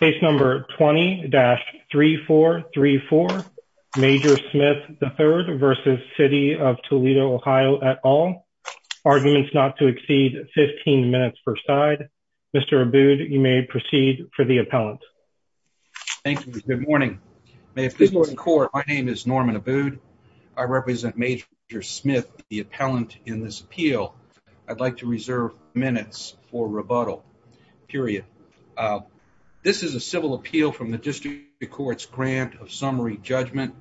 20-3434 Major Smith III v. City of Toledo, OH Arguments not to exceed 15 minutes per side Mr. Abood, you may proceed for the appellant Thank you, good morning My name is Norman Abood I represent Major Smith, the appellant in this appeal I'd like to reserve minutes for rebuttal This is a civil appeal from the District Court's grant of summary judgment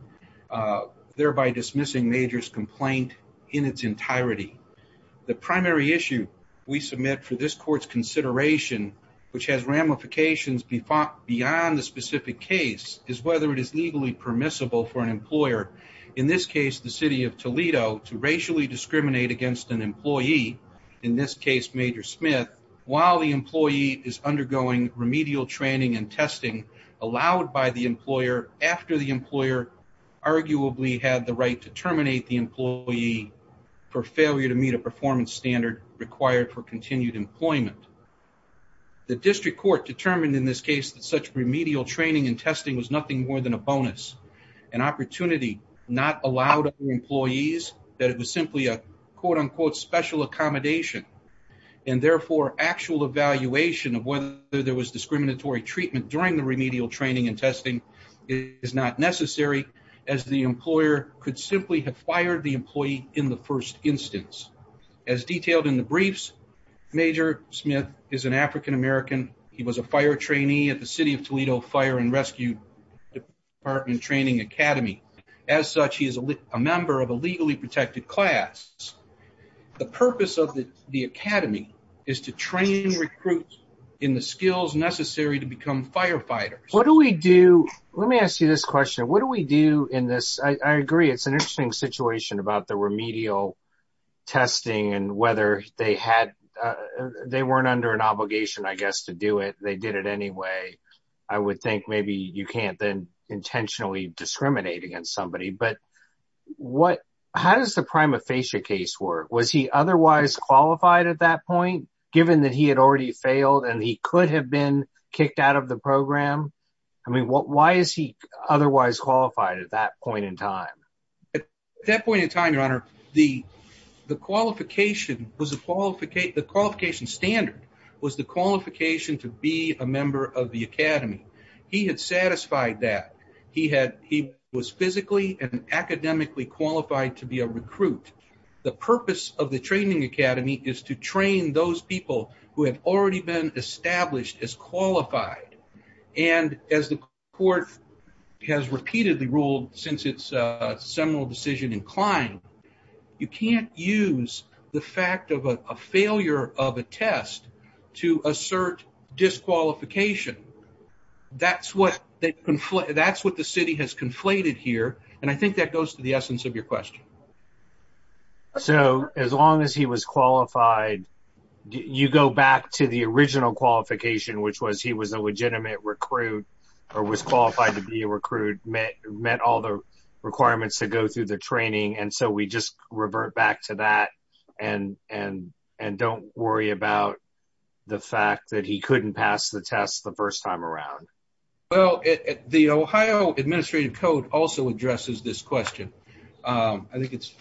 thereby dismissing Major's complaint in its entirety The primary issue we submit for this court's consideration which has ramifications beyond the specific case is whether it is legally permissible for an employer in this case, the City of Toledo to racially discriminate against an employee in this case, Major Smith while the employee is undergoing remedial training and testing allowed by the employer after the employer arguably had the right to terminate the employee for failure to meet a performance standard required for continued employment The District Court determined in this case that such remedial training and testing was nothing more than a bonus an opportunity not allowed of the employees that it was simply a quote-unquote special accommodation and therefore actual evaluation of whether there was discriminatory treatment during the remedial training and testing is not necessary as the employer could simply have fired the employee in the first instance As detailed in the briefs Major Smith is an African-American He was a fire trainee at the City of Toledo Fire and Rescue Department Training Academy As such, he is a member of a legally protected class The purpose of the Academy is to train recruits in the skills necessary to become firefighters What do we do, let me ask you this question What do we do in this, I agree it's an interesting situation about the remedial testing and whether they had they weren't under an obligation I guess to do it they did it anyway I would think maybe you can't then intentionally discriminate against somebody How does the prima facie case work? Was he otherwise qualified at that point? Given that he had already failed and he could have been kicked out of the program Why is he otherwise qualified at that point in time? At that point in time, your honor the qualification standard was the qualification to be a member of the Academy He had satisfied that He was physically and academically qualified to be a recruit The purpose of the Training Academy is to train those people who have already been established as qualified and as the court has repeatedly ruled since its seminal decision in Klein you can't use the fact of a failure of a test to assert disqualification That's what the city has conflated here and I think that goes to the essence of your question So as long as he was qualified you go back to the original qualification which was he was a legitimate recruit or was qualified to be a recruit met all the requirements to go through the training and so we just revert back to that and don't worry about the fact that he couldn't pass the test the first time around Well, the Ohio Administrative Code also addresses this question I think it's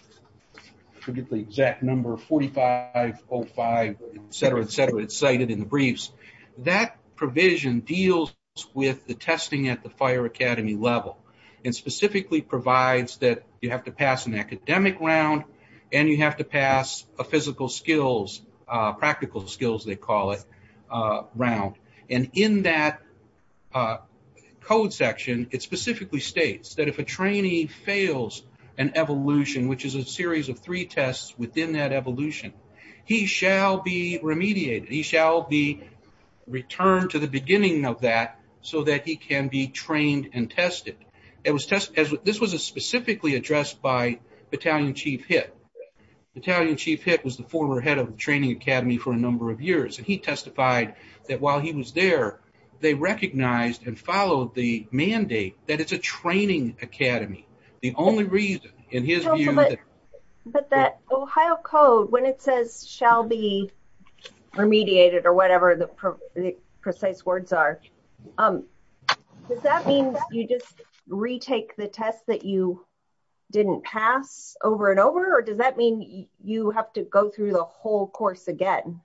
I forget the exact number 4505 etc etc it's cited in the briefs that provision deals with the testing at the Fire Academy level and specifically provides that you have to pass an academic round and you have to pass a physical skills practical skills they call it round and in that code section it specifically states that if a trainee fails an evolution which is a series of three tests within that evolution he shall be remediated he shall be returned to the beginning of that so that he can be trained and tested this was specifically addressed by Battalion Chief Hitt Battalion Chief Hitt was the former head of the Training Academy for a number of years and he testified that while he was there they recognized and followed the mandate that it's a training academy the only reason in his view but that Ohio Code when it says shall be remediated or whatever the precise words are does that mean you just retake the test that you didn't pass over and over or does that mean you have to go through the whole course again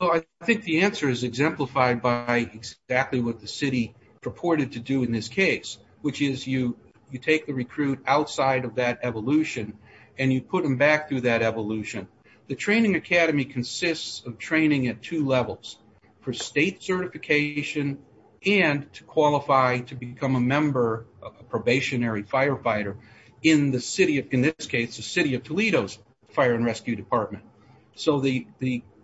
I think the answer is exemplified by exactly what the city purported to do in this case which is you take the recruit outside of that evolution and you put them back through that evolution the Training Academy consists of training at two levels for state certification and to qualify to become a member a probationary firefighter in the city, in this case the City of Toledo's Fire and Rescue Department so the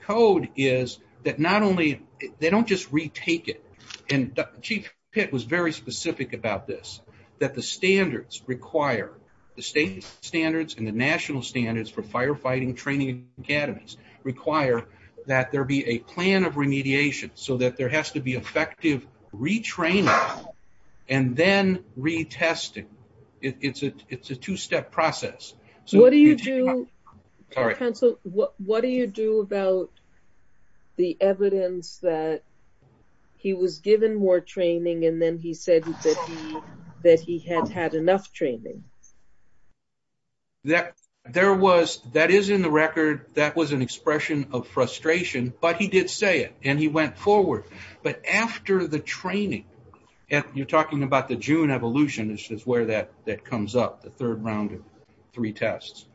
code is that not only they don't just retake it and Chief Hitt was very specific about this, that the standards require, the state standards and the national standards for firefighting training academies require that there be a plan of remediation so that there has to be effective retraining and then retesting it's a two-step process What do you do Council, what do you do about the evidence that he was given more training and then he said that he had had enough training that is in the record that was an expression of frustration but he did say it and he went forward but after the training and you're talking about the June evolution, this is where that comes up, the third round of three tests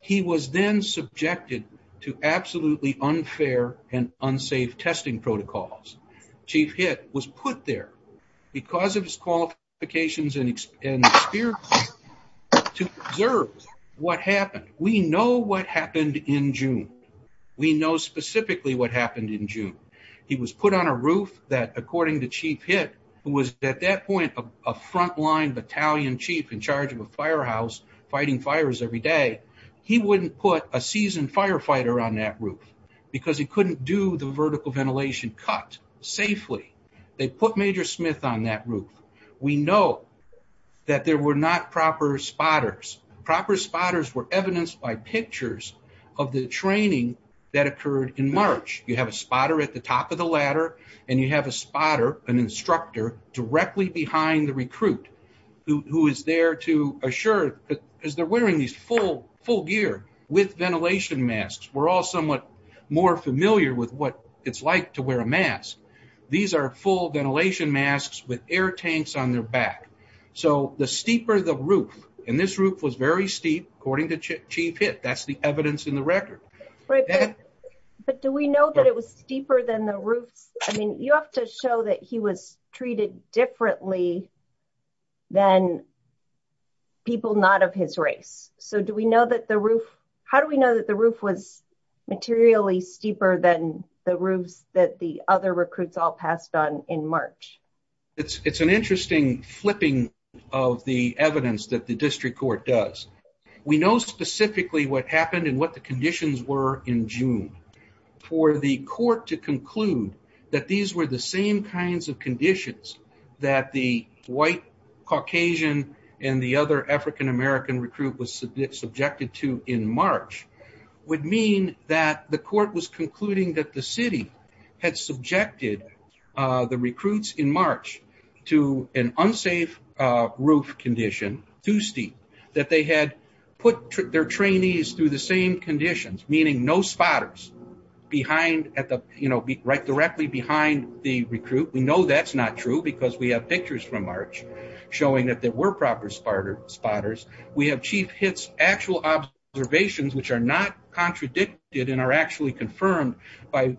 he was then subjected to absolutely unfair and unsafe testing protocols Chief Hitt was put there because of his qualifications and experience to observe what happened we know what happened in June we know specifically what happened in June he was put on a roof that according to Chief Hitt who was at that point a frontline battalion chief in charge of a firehouse fighting fires every day he wouldn't put a seasoned firefighter on that roof because he couldn't do the vertical ventilation cut safely, they put Major Smith on that roof we know that there were not proper spotters, proper spotters were evidenced by pictures of the training that you have a spotter an instructor directly behind the recruit who is there to assure as they're wearing these full gear with ventilation masks we're all somewhat more familiar with what it's like to wear a mask these are full ventilation masks with air tanks on their back so the steeper the roof and this roof was very steep according to Chief Hitt, that's the evidence in the record Right, but do we know that it was steeper than the roof I mean you have to show that he was treated differently than people not of his race so do we know that the roof how do we know that the roof was materially steeper than the roofs that the other recruits all passed on in March It's an interesting flipping of the evidence that the district court does. We know specifically what happened and what the conditions were in June. For the court to conclude that these were the same kinds of conditions that the white Caucasian and the other African American recruit was subjected to in March would mean that the court had subjected the recruits in March to an unsafe roof condition, too steep that they had put their trainees through the same conditions meaning no spotters directly behind the recruit. We know that's not true because we have pictures from March showing that there were proper spotters. We have Chief Hitt's actual observations which are not contradicted and are actually confirmed by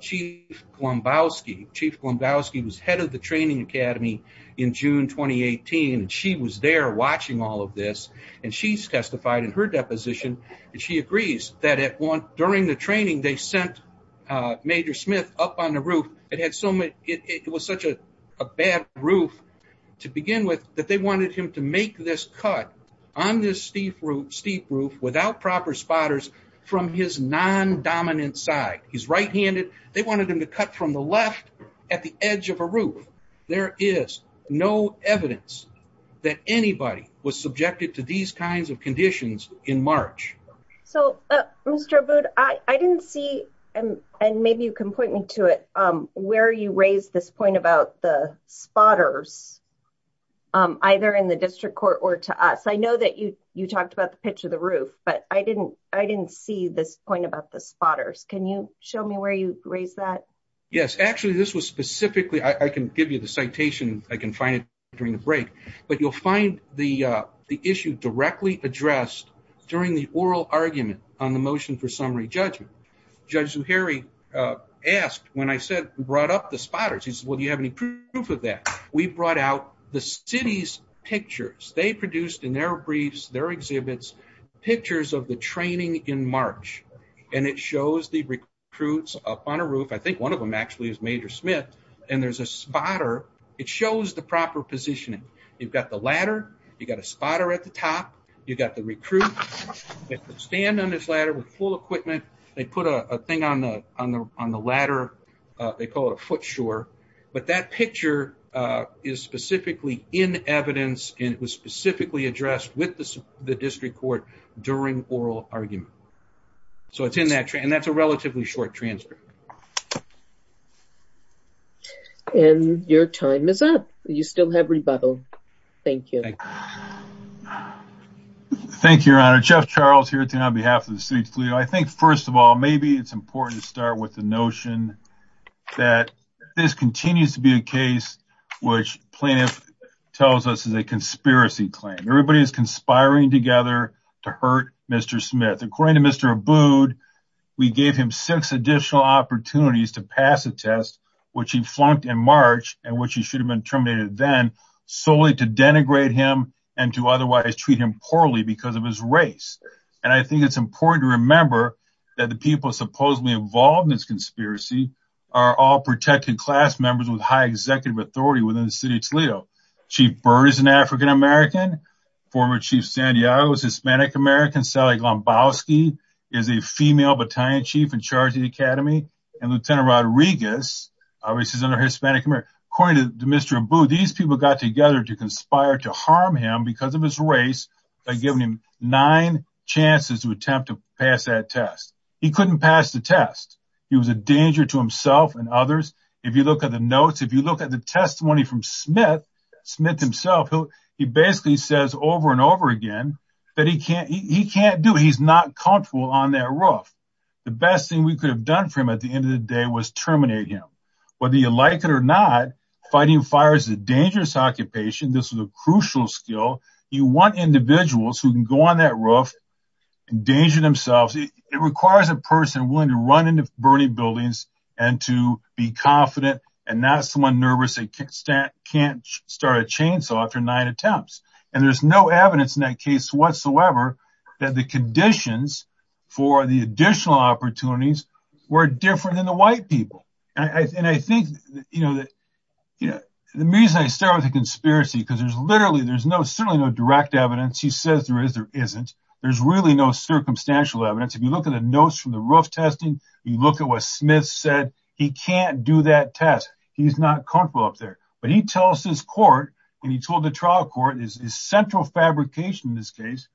Chief Glombowski Chief Glombowski was head of the training academy in June 2018 and she was there watching all of this and she testified in her deposition and she agrees that during the training they sent Major Smith up on the roof. It was such a bad roof to begin with that they wanted him to make this cut on this steep roof without proper spotters from his non dominant side. He's right handed they wanted him to cut from the left at the edge of a roof. There is no evidence that anybody was subjected to these kinds of conditions in March. So Mr. Abboud, I didn't see and maybe you can point me to it where you raised this point about the spotters either in the district court or to us. I know that you talked about the pitch of the roof but I didn't see this point about the spotters. Can you show me where you raised that? Yes, actually this was raised during the presentation. I can find it during the break but you'll find the issue directly addressed during the oral argument on the motion for summary judgment. Judge Zuhairi asked when I said brought up the spotters he said well do you have any proof of that? We brought out the city's pictures. They produced in their briefs, their exhibits, pictures of the training in March and it shows the recruits up on a roof. I think one of them actually is Major Smith and there's a spotter it shows the proper positioning. You've got the ladder, you've got a spotter at the top, you've got the recruits that stand on this ladder with full equipment. They put a thing on the ladder they call it a foot shore but that picture is specifically in evidence and it was specifically addressed with the district court during oral argument. So it's in that and that's a relatively short transcript. And your time is up. You still have rebuttal. Thank you. Thank you, Your Honor. Jeff Charles here on behalf of the City of Toledo. I think first of all maybe it's important to start with the notion that this continues to be a case which plaintiff tells us is a conspiracy claim. Everybody is conspiring together to hurt Mr. Smith. According to Mr. Abood, we gave him six additional opportunities to pass a test which he flunked in March and which he should have been terminated then solely to denigrate him and to otherwise treat him poorly because of his race. And I think it's important to remember that the people supposedly involved in this conspiracy are all protected class members with high executive authority within the City of Toledo. Chief Byrd is an African-American Former Chief Santiago is Hispanic-American Sally Glombowski is a female Battalion Chief in charge of the Academy and Lieutenant Rodriguez, according to Mr. Abood, these people got together to conspire to harm him because of his race by giving him nine chances to attempt to pass that test. He couldn't pass the test. He was a danger to himself and others. If you look at the notes, if you look at the testimony from Smith, Smith himself, he basically says over and over again that he can't do it. He's not comfortable on that roof. The best thing we could have done for him at the end of the day was terminate him. Whether you like it or not, fighting fires is a dangerous occupation. This was a crucial skill. You want individuals who can go on that roof and danger themselves. It requires a person willing to run into burning buildings and to be confident and not someone nervous and can't start a chainsaw after nine attempts. There's no evidence in that case whatsoever that the conditions for the additional opportunities were different than the white people. The reason I start with the conspiracy because there's literally no direct evidence. He says there is, there isn't. There's really no circumstantial evidence. If you look at the notes from the roof testing, you look at what Smith said, he can't do that test. He's not comfortable up there. But he tells his court, and he told the trial court, his central fabrication in this case,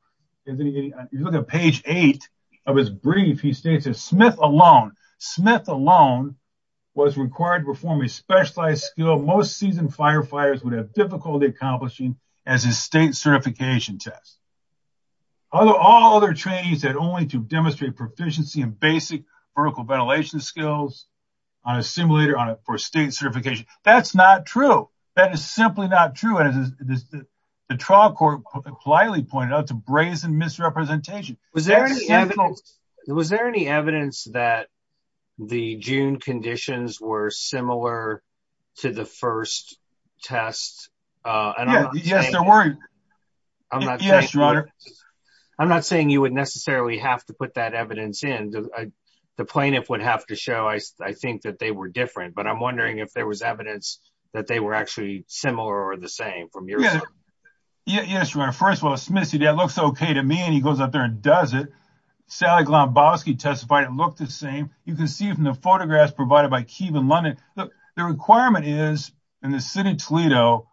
if you look at page eight of his brief, he states that Smith alone, Smith alone, was required to perform a specialized skill most seasoned firefighters would have difficulty accomplishing as a state certification test. All other trainees had only to demonstrate proficiency in basic vertical ventilation skills on a simulator for state certification. That's not true. That is simply not true. The trial court politely pointed out some brazen misrepresentation. Was there any evidence that the June conditions were similar to the first test? Yes, there were. Yes, your honor. I'm not saying you would necessarily have to put that evidence in. The plaintiff would have to show, I think, that they were different. But I'm wondering if there was evidence that they were actually similar or the same from your side. Yes, your honor. First of all, Smith said that looks okay to me, and he goes up there and does it. Sally Glombowski testified it looked the same. You can see from the photographs provided by Keeve in London that the requirement is that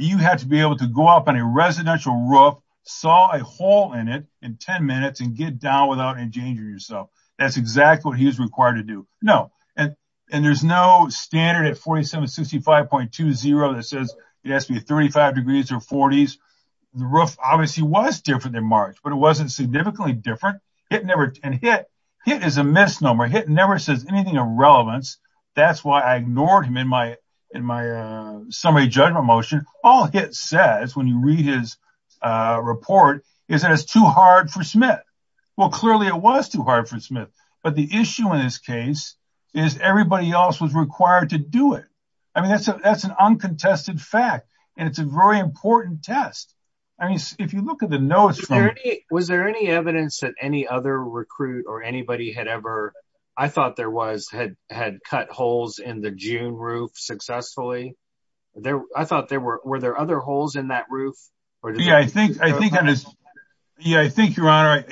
you have to be able to go up on a residential roof, saw a hole in it in 10 minutes, and get down without endangering yourself. That's exactly what he was required to do. No. There's no standard at 4765.20 that says it has to be 35 degrees or 40s. The roof obviously was different than March, but it wasn't significantly different. It is a misnomer. It never says anything of relevance. That's why I ignored him in my summary judgment motion. All it says when you read his report is that it's too hard for Smith. Well, clearly it was too hard for Smith, but the issue in this case is everybody else was required to do it. That's an uncontested fact, and it's a very important test. If you look at the notes... Was there any evidence that any other recruit or anybody had ever, I thought there was, had cut holes in the June roof successfully? I thought there were... Were there other holes in that roof? Yeah, I think Your Honor,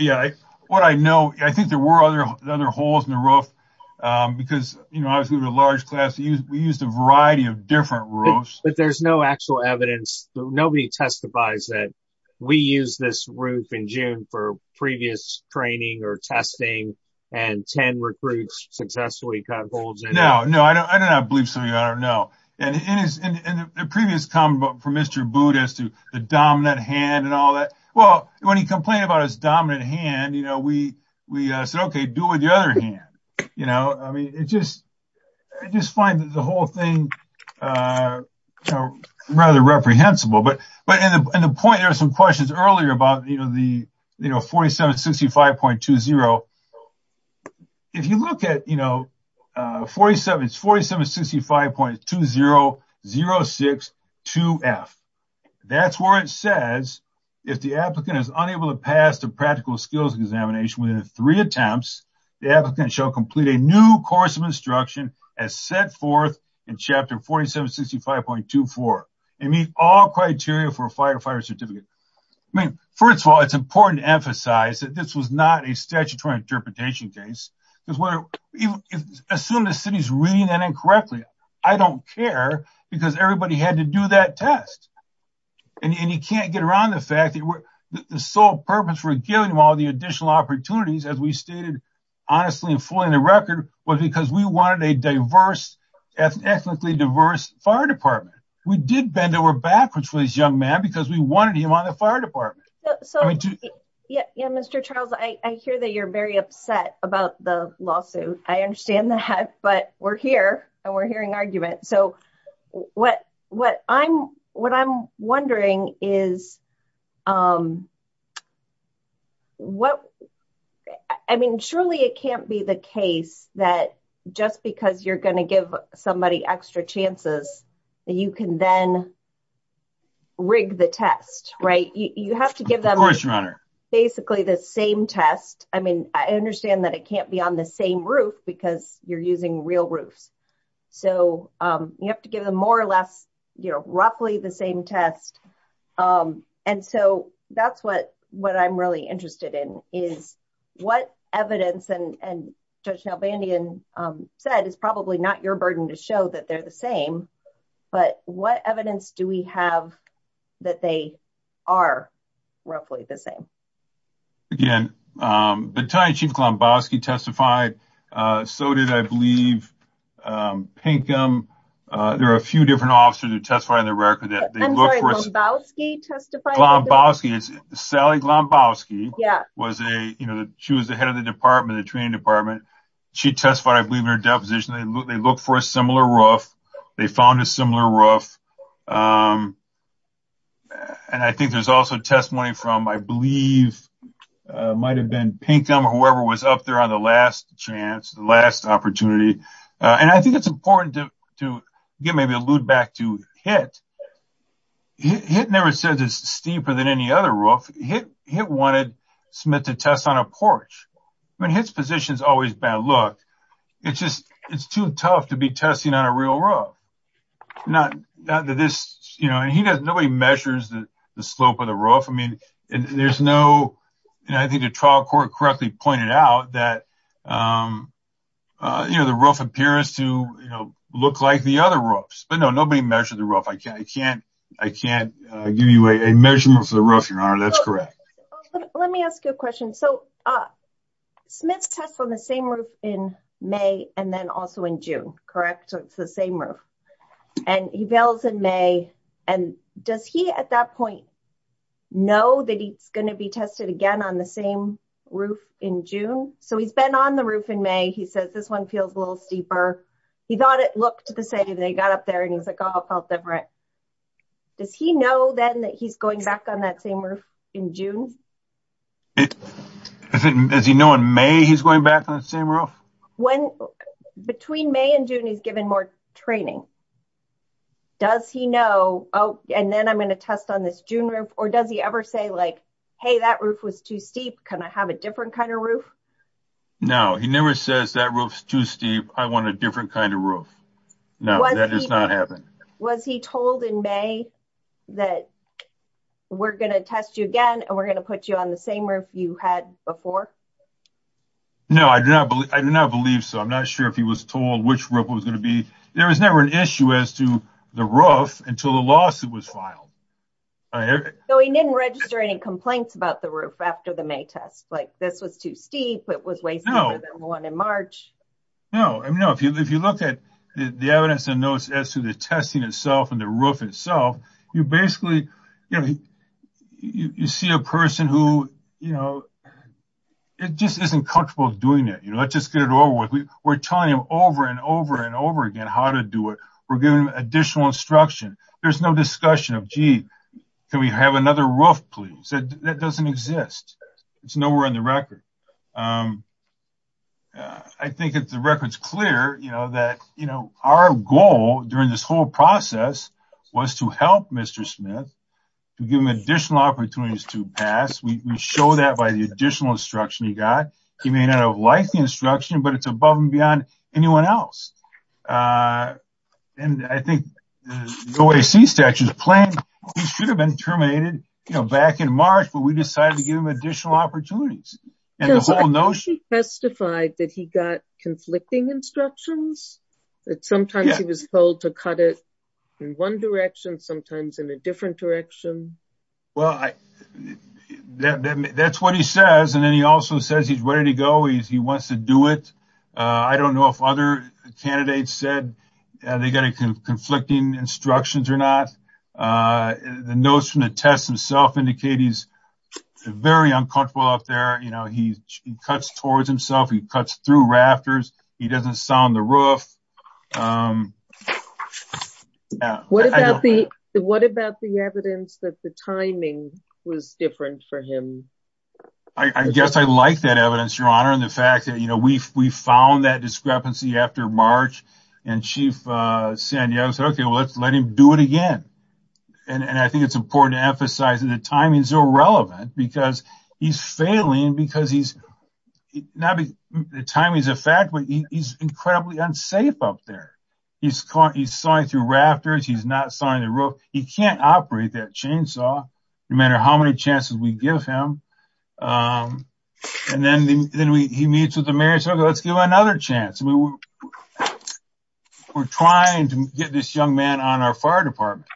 what I know I think there were other holes in the roof because obviously the large class used a variety of different roofs. But there's no actual evidence. Nobody testifies that we used this roof in June for previous training or testing and 10 recruits successfully cut holes in it. No, I do not believe so, Your Honor, no. In the previous comment from Mr. Boot as to the dominant hand and all that, well, when he complained about his dominant hand, we said, okay, deal with the other hand. I just find that the whole thing rather reprehensible. But in the point, there were some questions earlier about the 4765.20. If you look at 4765.20 0-6-2-F That's where it says if the applicant is unable to pass the practical skills examination within three attempts, the applicant shall complete a new course of instruction as set forth in chapter 4765.24 and meet all criteria for a firefighter certificate. First of all, it's important to emphasize that this was not a statutory interpretation case. Assume the city's reading that correctly. I don't care because everybody had to do that test. And you can't get around the fact that the sole purpose for giving him all the additional opportunities as we stated honestly and fully on the record was because we wanted a diverse, ethnically diverse fire department. We did bend over backwards for this young man because we wanted him on the fire department. Yeah, Mr. Charles, I hear that you're very upset about the lawsuit. I understand that, but we're here and we're hearing argument. So what I'm wondering is I mean, surely it can't be the case that just because you're going to give somebody extra chances that you can then rig the test, right? You have to give them basically the same test. I mean, I understand that it can't be on the same roof because you're using real roofs. You have to give them more or less roughly the same test. And so that's what I'm really interested in is what evidence and Judge Nalbandian said is probably not your burden to show that they're the same, but what evidence do we have that they are roughly the same? Again, Battaglia Chief Glombowski testified. So did I believe Pinkham. There are a few different officers who testified in the record. I'm sorry, Glombowski testified? Glombowski. Sally Glombowski was a, you know, she was the head of the department, the training department. She testified, I believe, in her deposition. They look for a similar roof. They found a similar roof. And I think there's also testimony from I believe might have been Pinkham or whoever was up there on the last chance, the last opportunity. And I think it's important to maybe allude back to Hitt. Hitt never said it's steeper than any other roof. Hitt wanted Smith to test on a porch. I mean, Hitt's position's always bad. Look, it's just too tough to be testing on a real roof. Not that this, you know, nobody measures the slope of the roof. There's no... I think the trial court correctly pointed out that the roof appears to look like the other roofs. But no, nobody measured the roof. I can't give you a measurement for the roof, Your Honor. That's correct. Let me ask you a question. Smith tests on the same roof in May and then also in June, correct? So it's the same roof. And he bails in May. And does he at that point know that he's going to be tested again on the same roof in June? So he's been on the roof in May. He says this one feels a little steeper. He thought it looked the same. Then he got up there and he was like, oh, it felt different. Does he know then that he's going back on that same roof in June? Does he know in May he's going back on the same roof? Between May and June, he's given more training. Does he know, and then I'm going to test on this June roof, or does he ever say like, hey, that roof was too steep. Can I have a different kind of roof? No, he never says that roof's too steep. I want a different kind of roof. No, that does not happen. Was he told in May that we're going to test you again and we're going to put you on the same roof you had before? No, I do not believe so. I'm not sure if he was told which roof it was going to be. There was never an issue as to the roof until the lawsuit was filed. He didn't register any complaints about the roof after the May test, like this was too steep, it was way steeper than the one in March. No, if you look at the evidence and notes as to the testing itself and the roof itself, you basically see a person who just isn't comfortable doing it. Let's just get it over with. We're telling him over and over again how to do it. We're giving him additional instruction. There's no discussion of, gee, can we have another roof, please? That doesn't exist. It's nowhere in the record. I think the record's clear that our goal during this whole process was to help Mr. Smith to give him additional opportunities to pass. We show that by the additional instruction he got. He may not have liked the instruction, but it's above and beyond anyone else. I think the OAC statute should have been terminated back in March, but we decided to give him additional opportunities. I think he testified that he got conflicting instructions, that sometimes he was told to cut it in one direction, sometimes in a different direction. That's what he says, and then he also says he's ready to go. He wants to do it. I don't know if other candidates said they got conflicting instructions or not. The notes from the test itself indicate he's very uncomfortable out there. He cuts towards himself. He cuts through rafters. He doesn't sound the roof. What about the evidence that the timing was different for him? I guess I like that evidence, Your Honor, and the fact that we found that discrepancy after March, and Chief Santiago said, okay, let's let him do it again. I think it's important to emphasize that the timing is irrelevant because he's failing because the timing is a fact, but he's incredibly unsafe up there. He's sawing through rafters. He's not sawing the roof. He can't operate that chainsaw no matter how many chances we give him. Then he meets with the mayor and says, let's give him another chance. We're trying to get this young man on our fire department.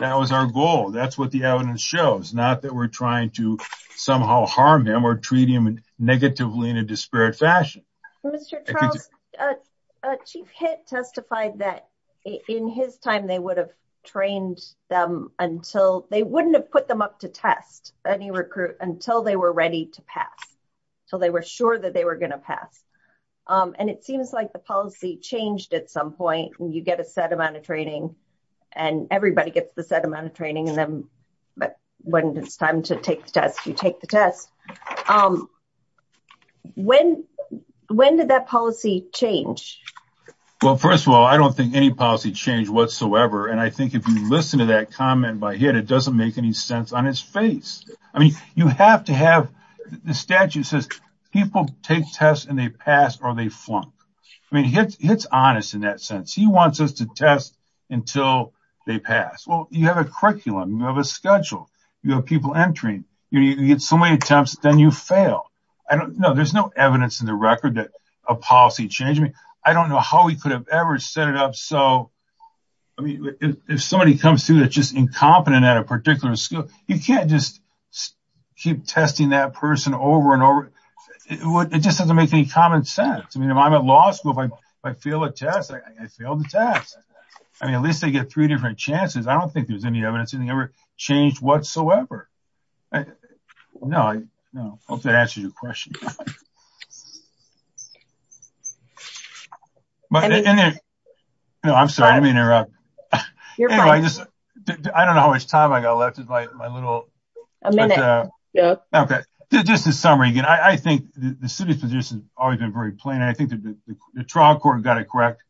That was our goal. That's what the evidence shows, not that we're trying to somehow harm him or treat him negatively in a disparate fashion. Mr. Charles, Chief Hitt testified that in his time they wouldn't have put them up to test any recruit until they were ready to pass, until they were sure that they were going to pass. It seems like the policy changed at some point. You get a set amount of training, and everybody gets the set amount of training, but when it's time to take the test, you take the test. When did that policy change? First of all, I don't think there was any policy change whatsoever. I think if you listen to that comment by Hitt, it doesn't make any sense on his face. You have to have the statute that says people take tests and they pass or they flunk. Hitt's honest in that sense. He wants us to test until they pass. You have a curriculum. You have a schedule. You have people entering. You get so many attempts, then you fail. There's no evidence in the record that a policy changed. I don't know how he could have ever set it up so... If somebody comes through that's just incompetent at a particular school, you can't just keep testing that person over and over. It just doesn't make any common sense. If I'm at law school, if I fail a test, I fail the test. At least they get three different chances. I don't think there's any evidence that anything ever changed whatsoever. I hope that answers your question. I'm sorry. Let me interrupt. I don't know how much time I got left. A minute. Just a summary. I think the city's position has always been very plain. I think the trial court got it correct.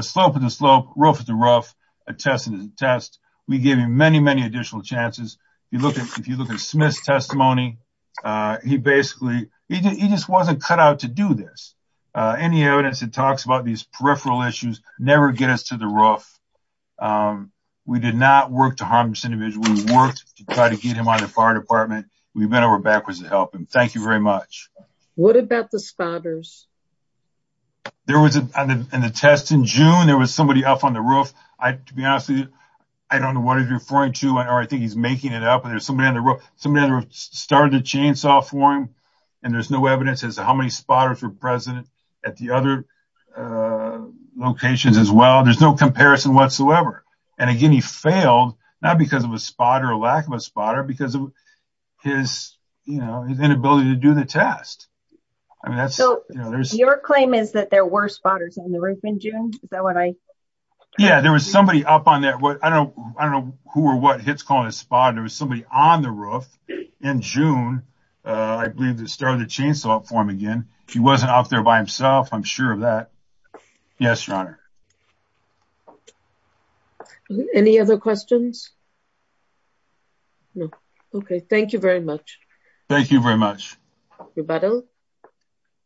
Slope is a slope. Roof is a roof. A test is a test. We gave him many, many additional chances. If you look at Smith's testimony, he basically just wasn't cut out to do this. Any evidence that talks about these peripheral issues never get us to the roof. We did not work to harm this individual. We worked to try to get him out of the fire department. We went over backwards to help him. Thank you very much. What about the spotters? There was a test in June. There was somebody up on the roof. To be honest, I don't know what he's referring to. I think he's making it up. There's somebody on the roof. Somebody on the roof started a chainsaw for him. There's no evidence as to how many spotters were present at the other locations as well. There's no comparison whatsoever. Again, he failed not because of a spotter or lack of a spotter, but because of his inability to do the test. Your claim is that there were spotters on the roof in June? Yeah, there was somebody up on there. I don't know who or what Hitt's calling a spotter. There was somebody on the roof in June. I believe they started a chainsaw for him again. He wasn't out there by himself. I'm sure of that. Yes, Your Honor. Any other questions? No. Okay. Thank you very much. Thank you very much. Rebuttal?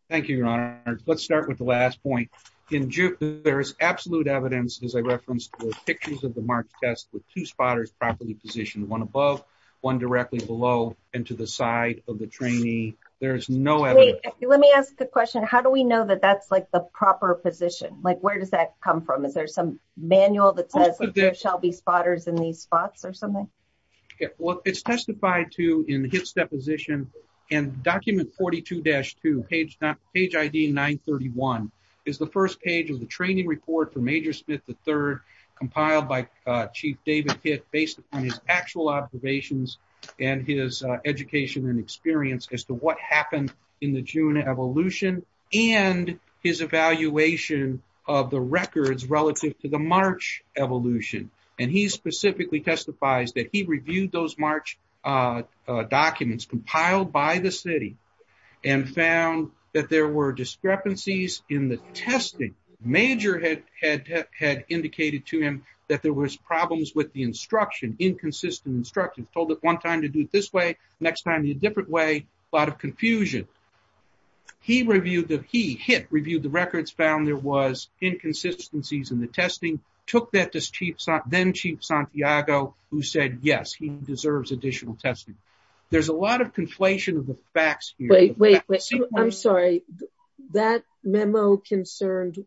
Thank you, Your Honor. Let's start with the last point. In June, there is absolute evidence as I referenced in the pictures of the marked test with two spotters properly positioned, one above, one directly below and to the side of the trainee. There's no evidence. Let me ask a question. How do we know that that's the proper position? Where does that come from? Is there some manual that says there shall be spotters in these spots or something? It's testified to in Hitt's deposition and document 42-2, page ID 931, is the first page of the training report for Major Smith III compiled by Chief David Hitt based upon his actual observations and his education and experience as to what happened in the June evolution and his evaluation of the records relative to the March evolution. And he specifically testifies that he reviewed those March documents compiled by the city and found that there were discrepancies in the testing. Major had indicated to him that there was problems with the instruction, inconsistent instruction, told it one time to do it this way, next time a different way, a lot of confusion. He reviewed the, he Hitt reviewed the records, found there was inconsistencies in the testing, took that to then Chief Santiago who said, yes, he deserves additional testing. There's a lot of conflation of the facts here. Wait, wait, I'm sorry. That memo concerned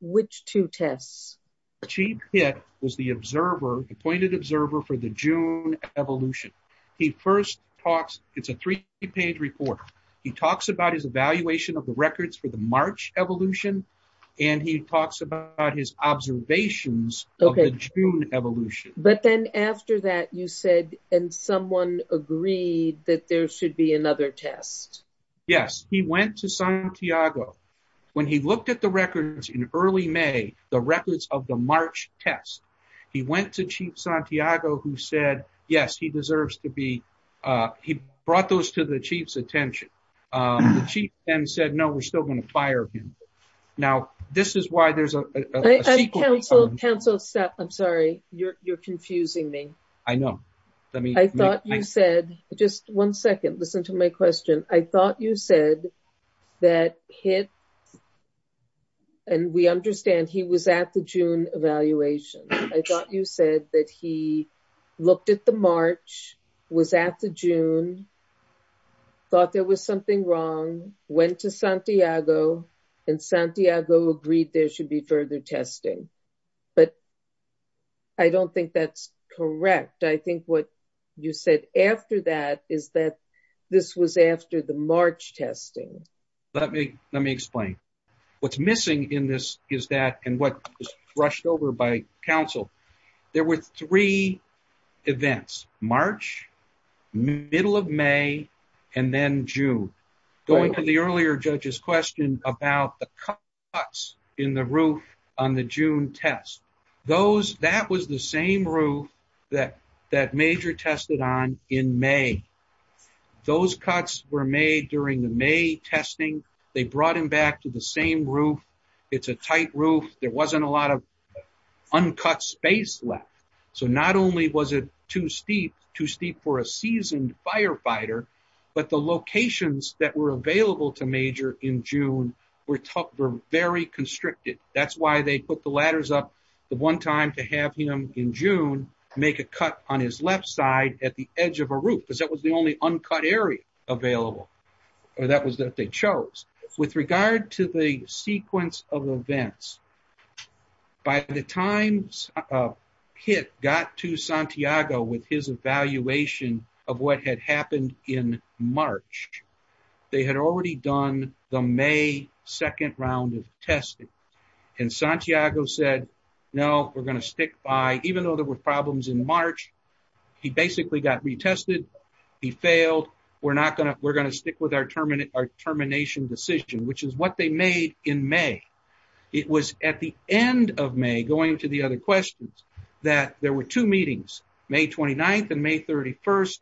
which two tests? Chief Hitt was the observer, appointed observer for the June evolution. He first talks, it's a three page report. He talks about his evaluation of the records for the March evolution and he talks about his observations of the June evolution. But then after that you said, and someone agreed that there should be another test. Yes. He went to Santiago. When he looked at the records in early May, the records of the March test, he went to Chief Santiago who said, yes, he deserves to be, he brought those to the Chief's attention. The Chief then said, no, we're still going to fire him. Now, this is why there's a sequence of... I'm sorry, you're confusing me. I know. I thought you said, just one second, listen to my question. I thought you said that Hitt, and we understand he was at the June evaluation. I thought you said that he looked at the March, was at the June, thought there was something wrong, went to Santiago and Santiago agreed there should be further testing. But I don't think that's correct. I think what you said after that is that this was after the March testing. Let me explain. What's missing in this is that and what was brushed over by counsel, there were three events, March, middle of May, and then June. Going to the earlier judge's question about the cuts in the roof on the June test, that was the same roof that Major tested on in May. Those cuts were made during the May testing. They brought him back to the same roof. It's a tight roof. There wasn't a lot of uncut space left. So not only was it too steep for a seasoned firefighter, but the locations that were available to Major in June were very constricted. That's why they put the ladders up the one time to have him in June make a cut on his left side at the edge of a roof because that was the only uncut area available. That was that they chose. With regard to the sequence of events, by the time Pitt got to Santiago with his evaluation of what had happened in March, they had already done the May second round of testing and Santiago said no, we're going to stick by even though there were problems in March. He basically got retested. He failed. We're going to stick with our termination decision, which is what they made in May. It was at the end of May, going to the other questions, that there were two meetings, May 29th and May 31st.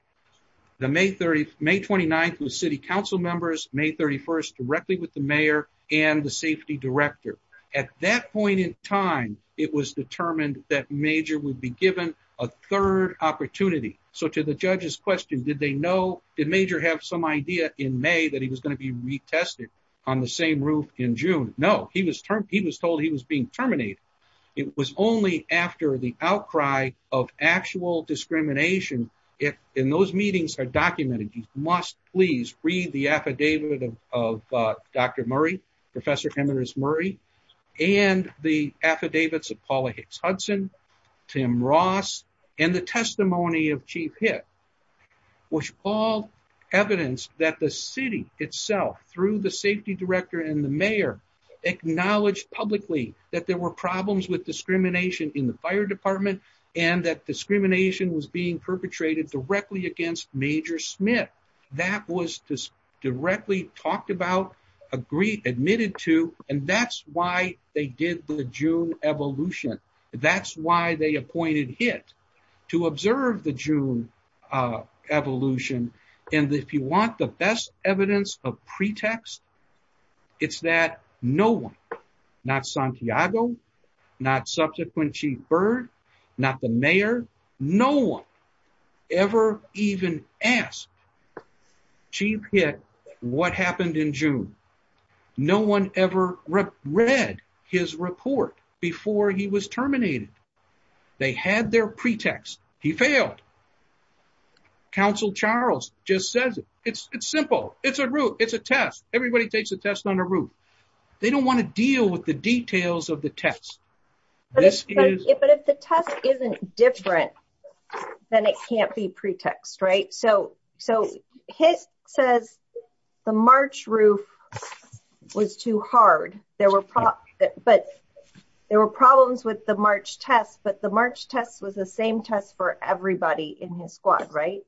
May 29th was city council members, May 31st directly with the mayor and the safety director. At that point in time, it was determined that Major would be given a third opportunity. So to the judge's question, did they know, did Major have some idea in May that he was going to be retested on the same roof in June? No, he was told he was being terminated. It was only after the outcry of actual discrimination in those meetings are documented. You must please read the affidavit of Dr. Murray, Professor Emeritus Murray and the affidavits of Paula Hicks Hudson, Tim Ross and the testimony of Chief Hitt, which all evidence that the city itself, through the safety director and the mayor acknowledged publicly that there were problems with discrimination in the fire department and that discrimination was being perpetrated directly against Major Smith. That was directly talked about, admitted to and that's why they did the June evolution. That's why they appointed Hitt to observe the June evolution and if you want the best evidence of pretext, it's that no one, not Santiago, not subsequent Chief Byrd, not the mayor, no one ever even asked Chief Hitt what happened in June. No one ever read his report before he was terminated. They had their pretext. He failed. Council Charles just says it's simple. It's a route. It's a test. Everybody takes a test on a route. They don't want to deal with the details of the test. But if the test isn't different, then it can't be pretext, right? Hitt says the March roof was too hard. There were problems with the March test but the March test was the same test for everybody in his squad, right?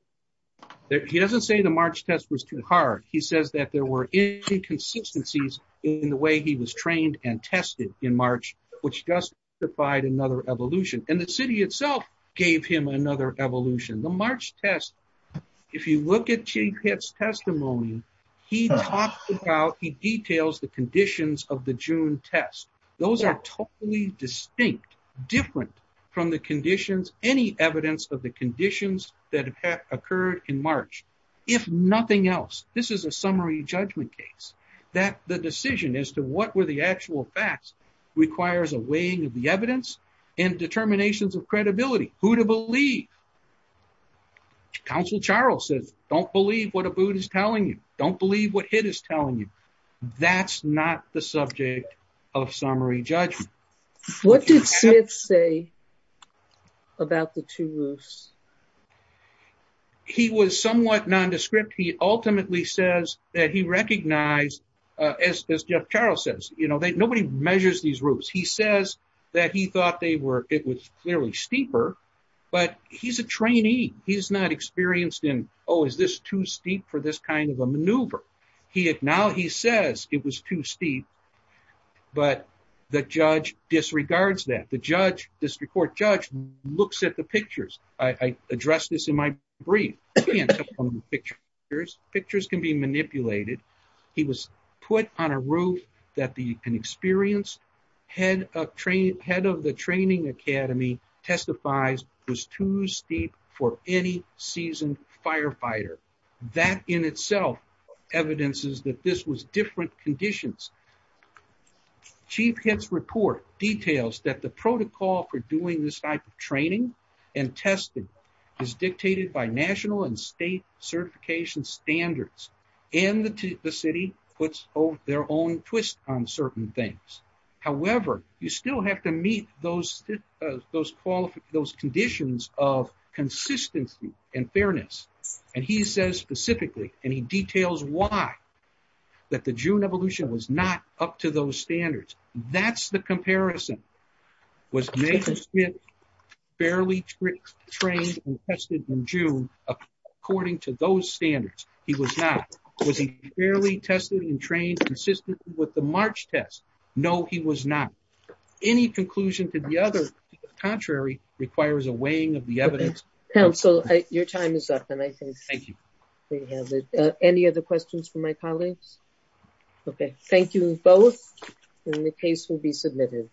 He doesn't say the March test was too hard. He says that there were inconsistencies in the way he was trained and tested in March which justified another evolution and the city itself gave him another evolution. The March test, if you look at Chief Hitt's testimony, he talks about, he details the conditions of the June test. Those are totally distinct, different from the conditions, any evidence of the conditions that have occurred in March. If nothing else, this is a summary judgment case, that the decision as to what were the actual facts requires a weighing of the evidence and determinations of credibility. Who to believe? Counsel Charles says, don't believe what Abood is telling you. Don't believe what Hitt is telling you. That's not the subject of summary judgment. What did Smith say about the two roofs? He was somewhat nondescript. He ultimately says that he recognized, as Jeff Charles says, nobody measures these roofs. He says that he but he's a trainee. He's not experienced in, oh, is this too steep for this kind of a maneuver? Now he says it was too steep, but the judge disregards that. The district court judge looks at the pictures. I address this in my brief. You can't take pictures. Pictures can be manipulated. He was put on a roof that an experienced head of the training academy testifies was too steep for any seasoned firefighter. That in itself evidences that this was different conditions. Chief Hitt's report details that the protocol for doing this type of training and testing is dictated by national and state certification standards and the city puts their own twist on certain things. However, you still have to meet those conditions of consistency and fairness. And he says specifically, and he details why that the June evolution was not up to those standards. That's the comparison. Was Nathan Smith fairly trained and tested in June according to those standards? He was not. Was he fairly tested and trained consistently with the March test? No, he was not. Any conclusion to the other contrary requires a weighing of the evidence. Your time is up. Any other questions from my colleagues? Thank you both. The case will be submitted.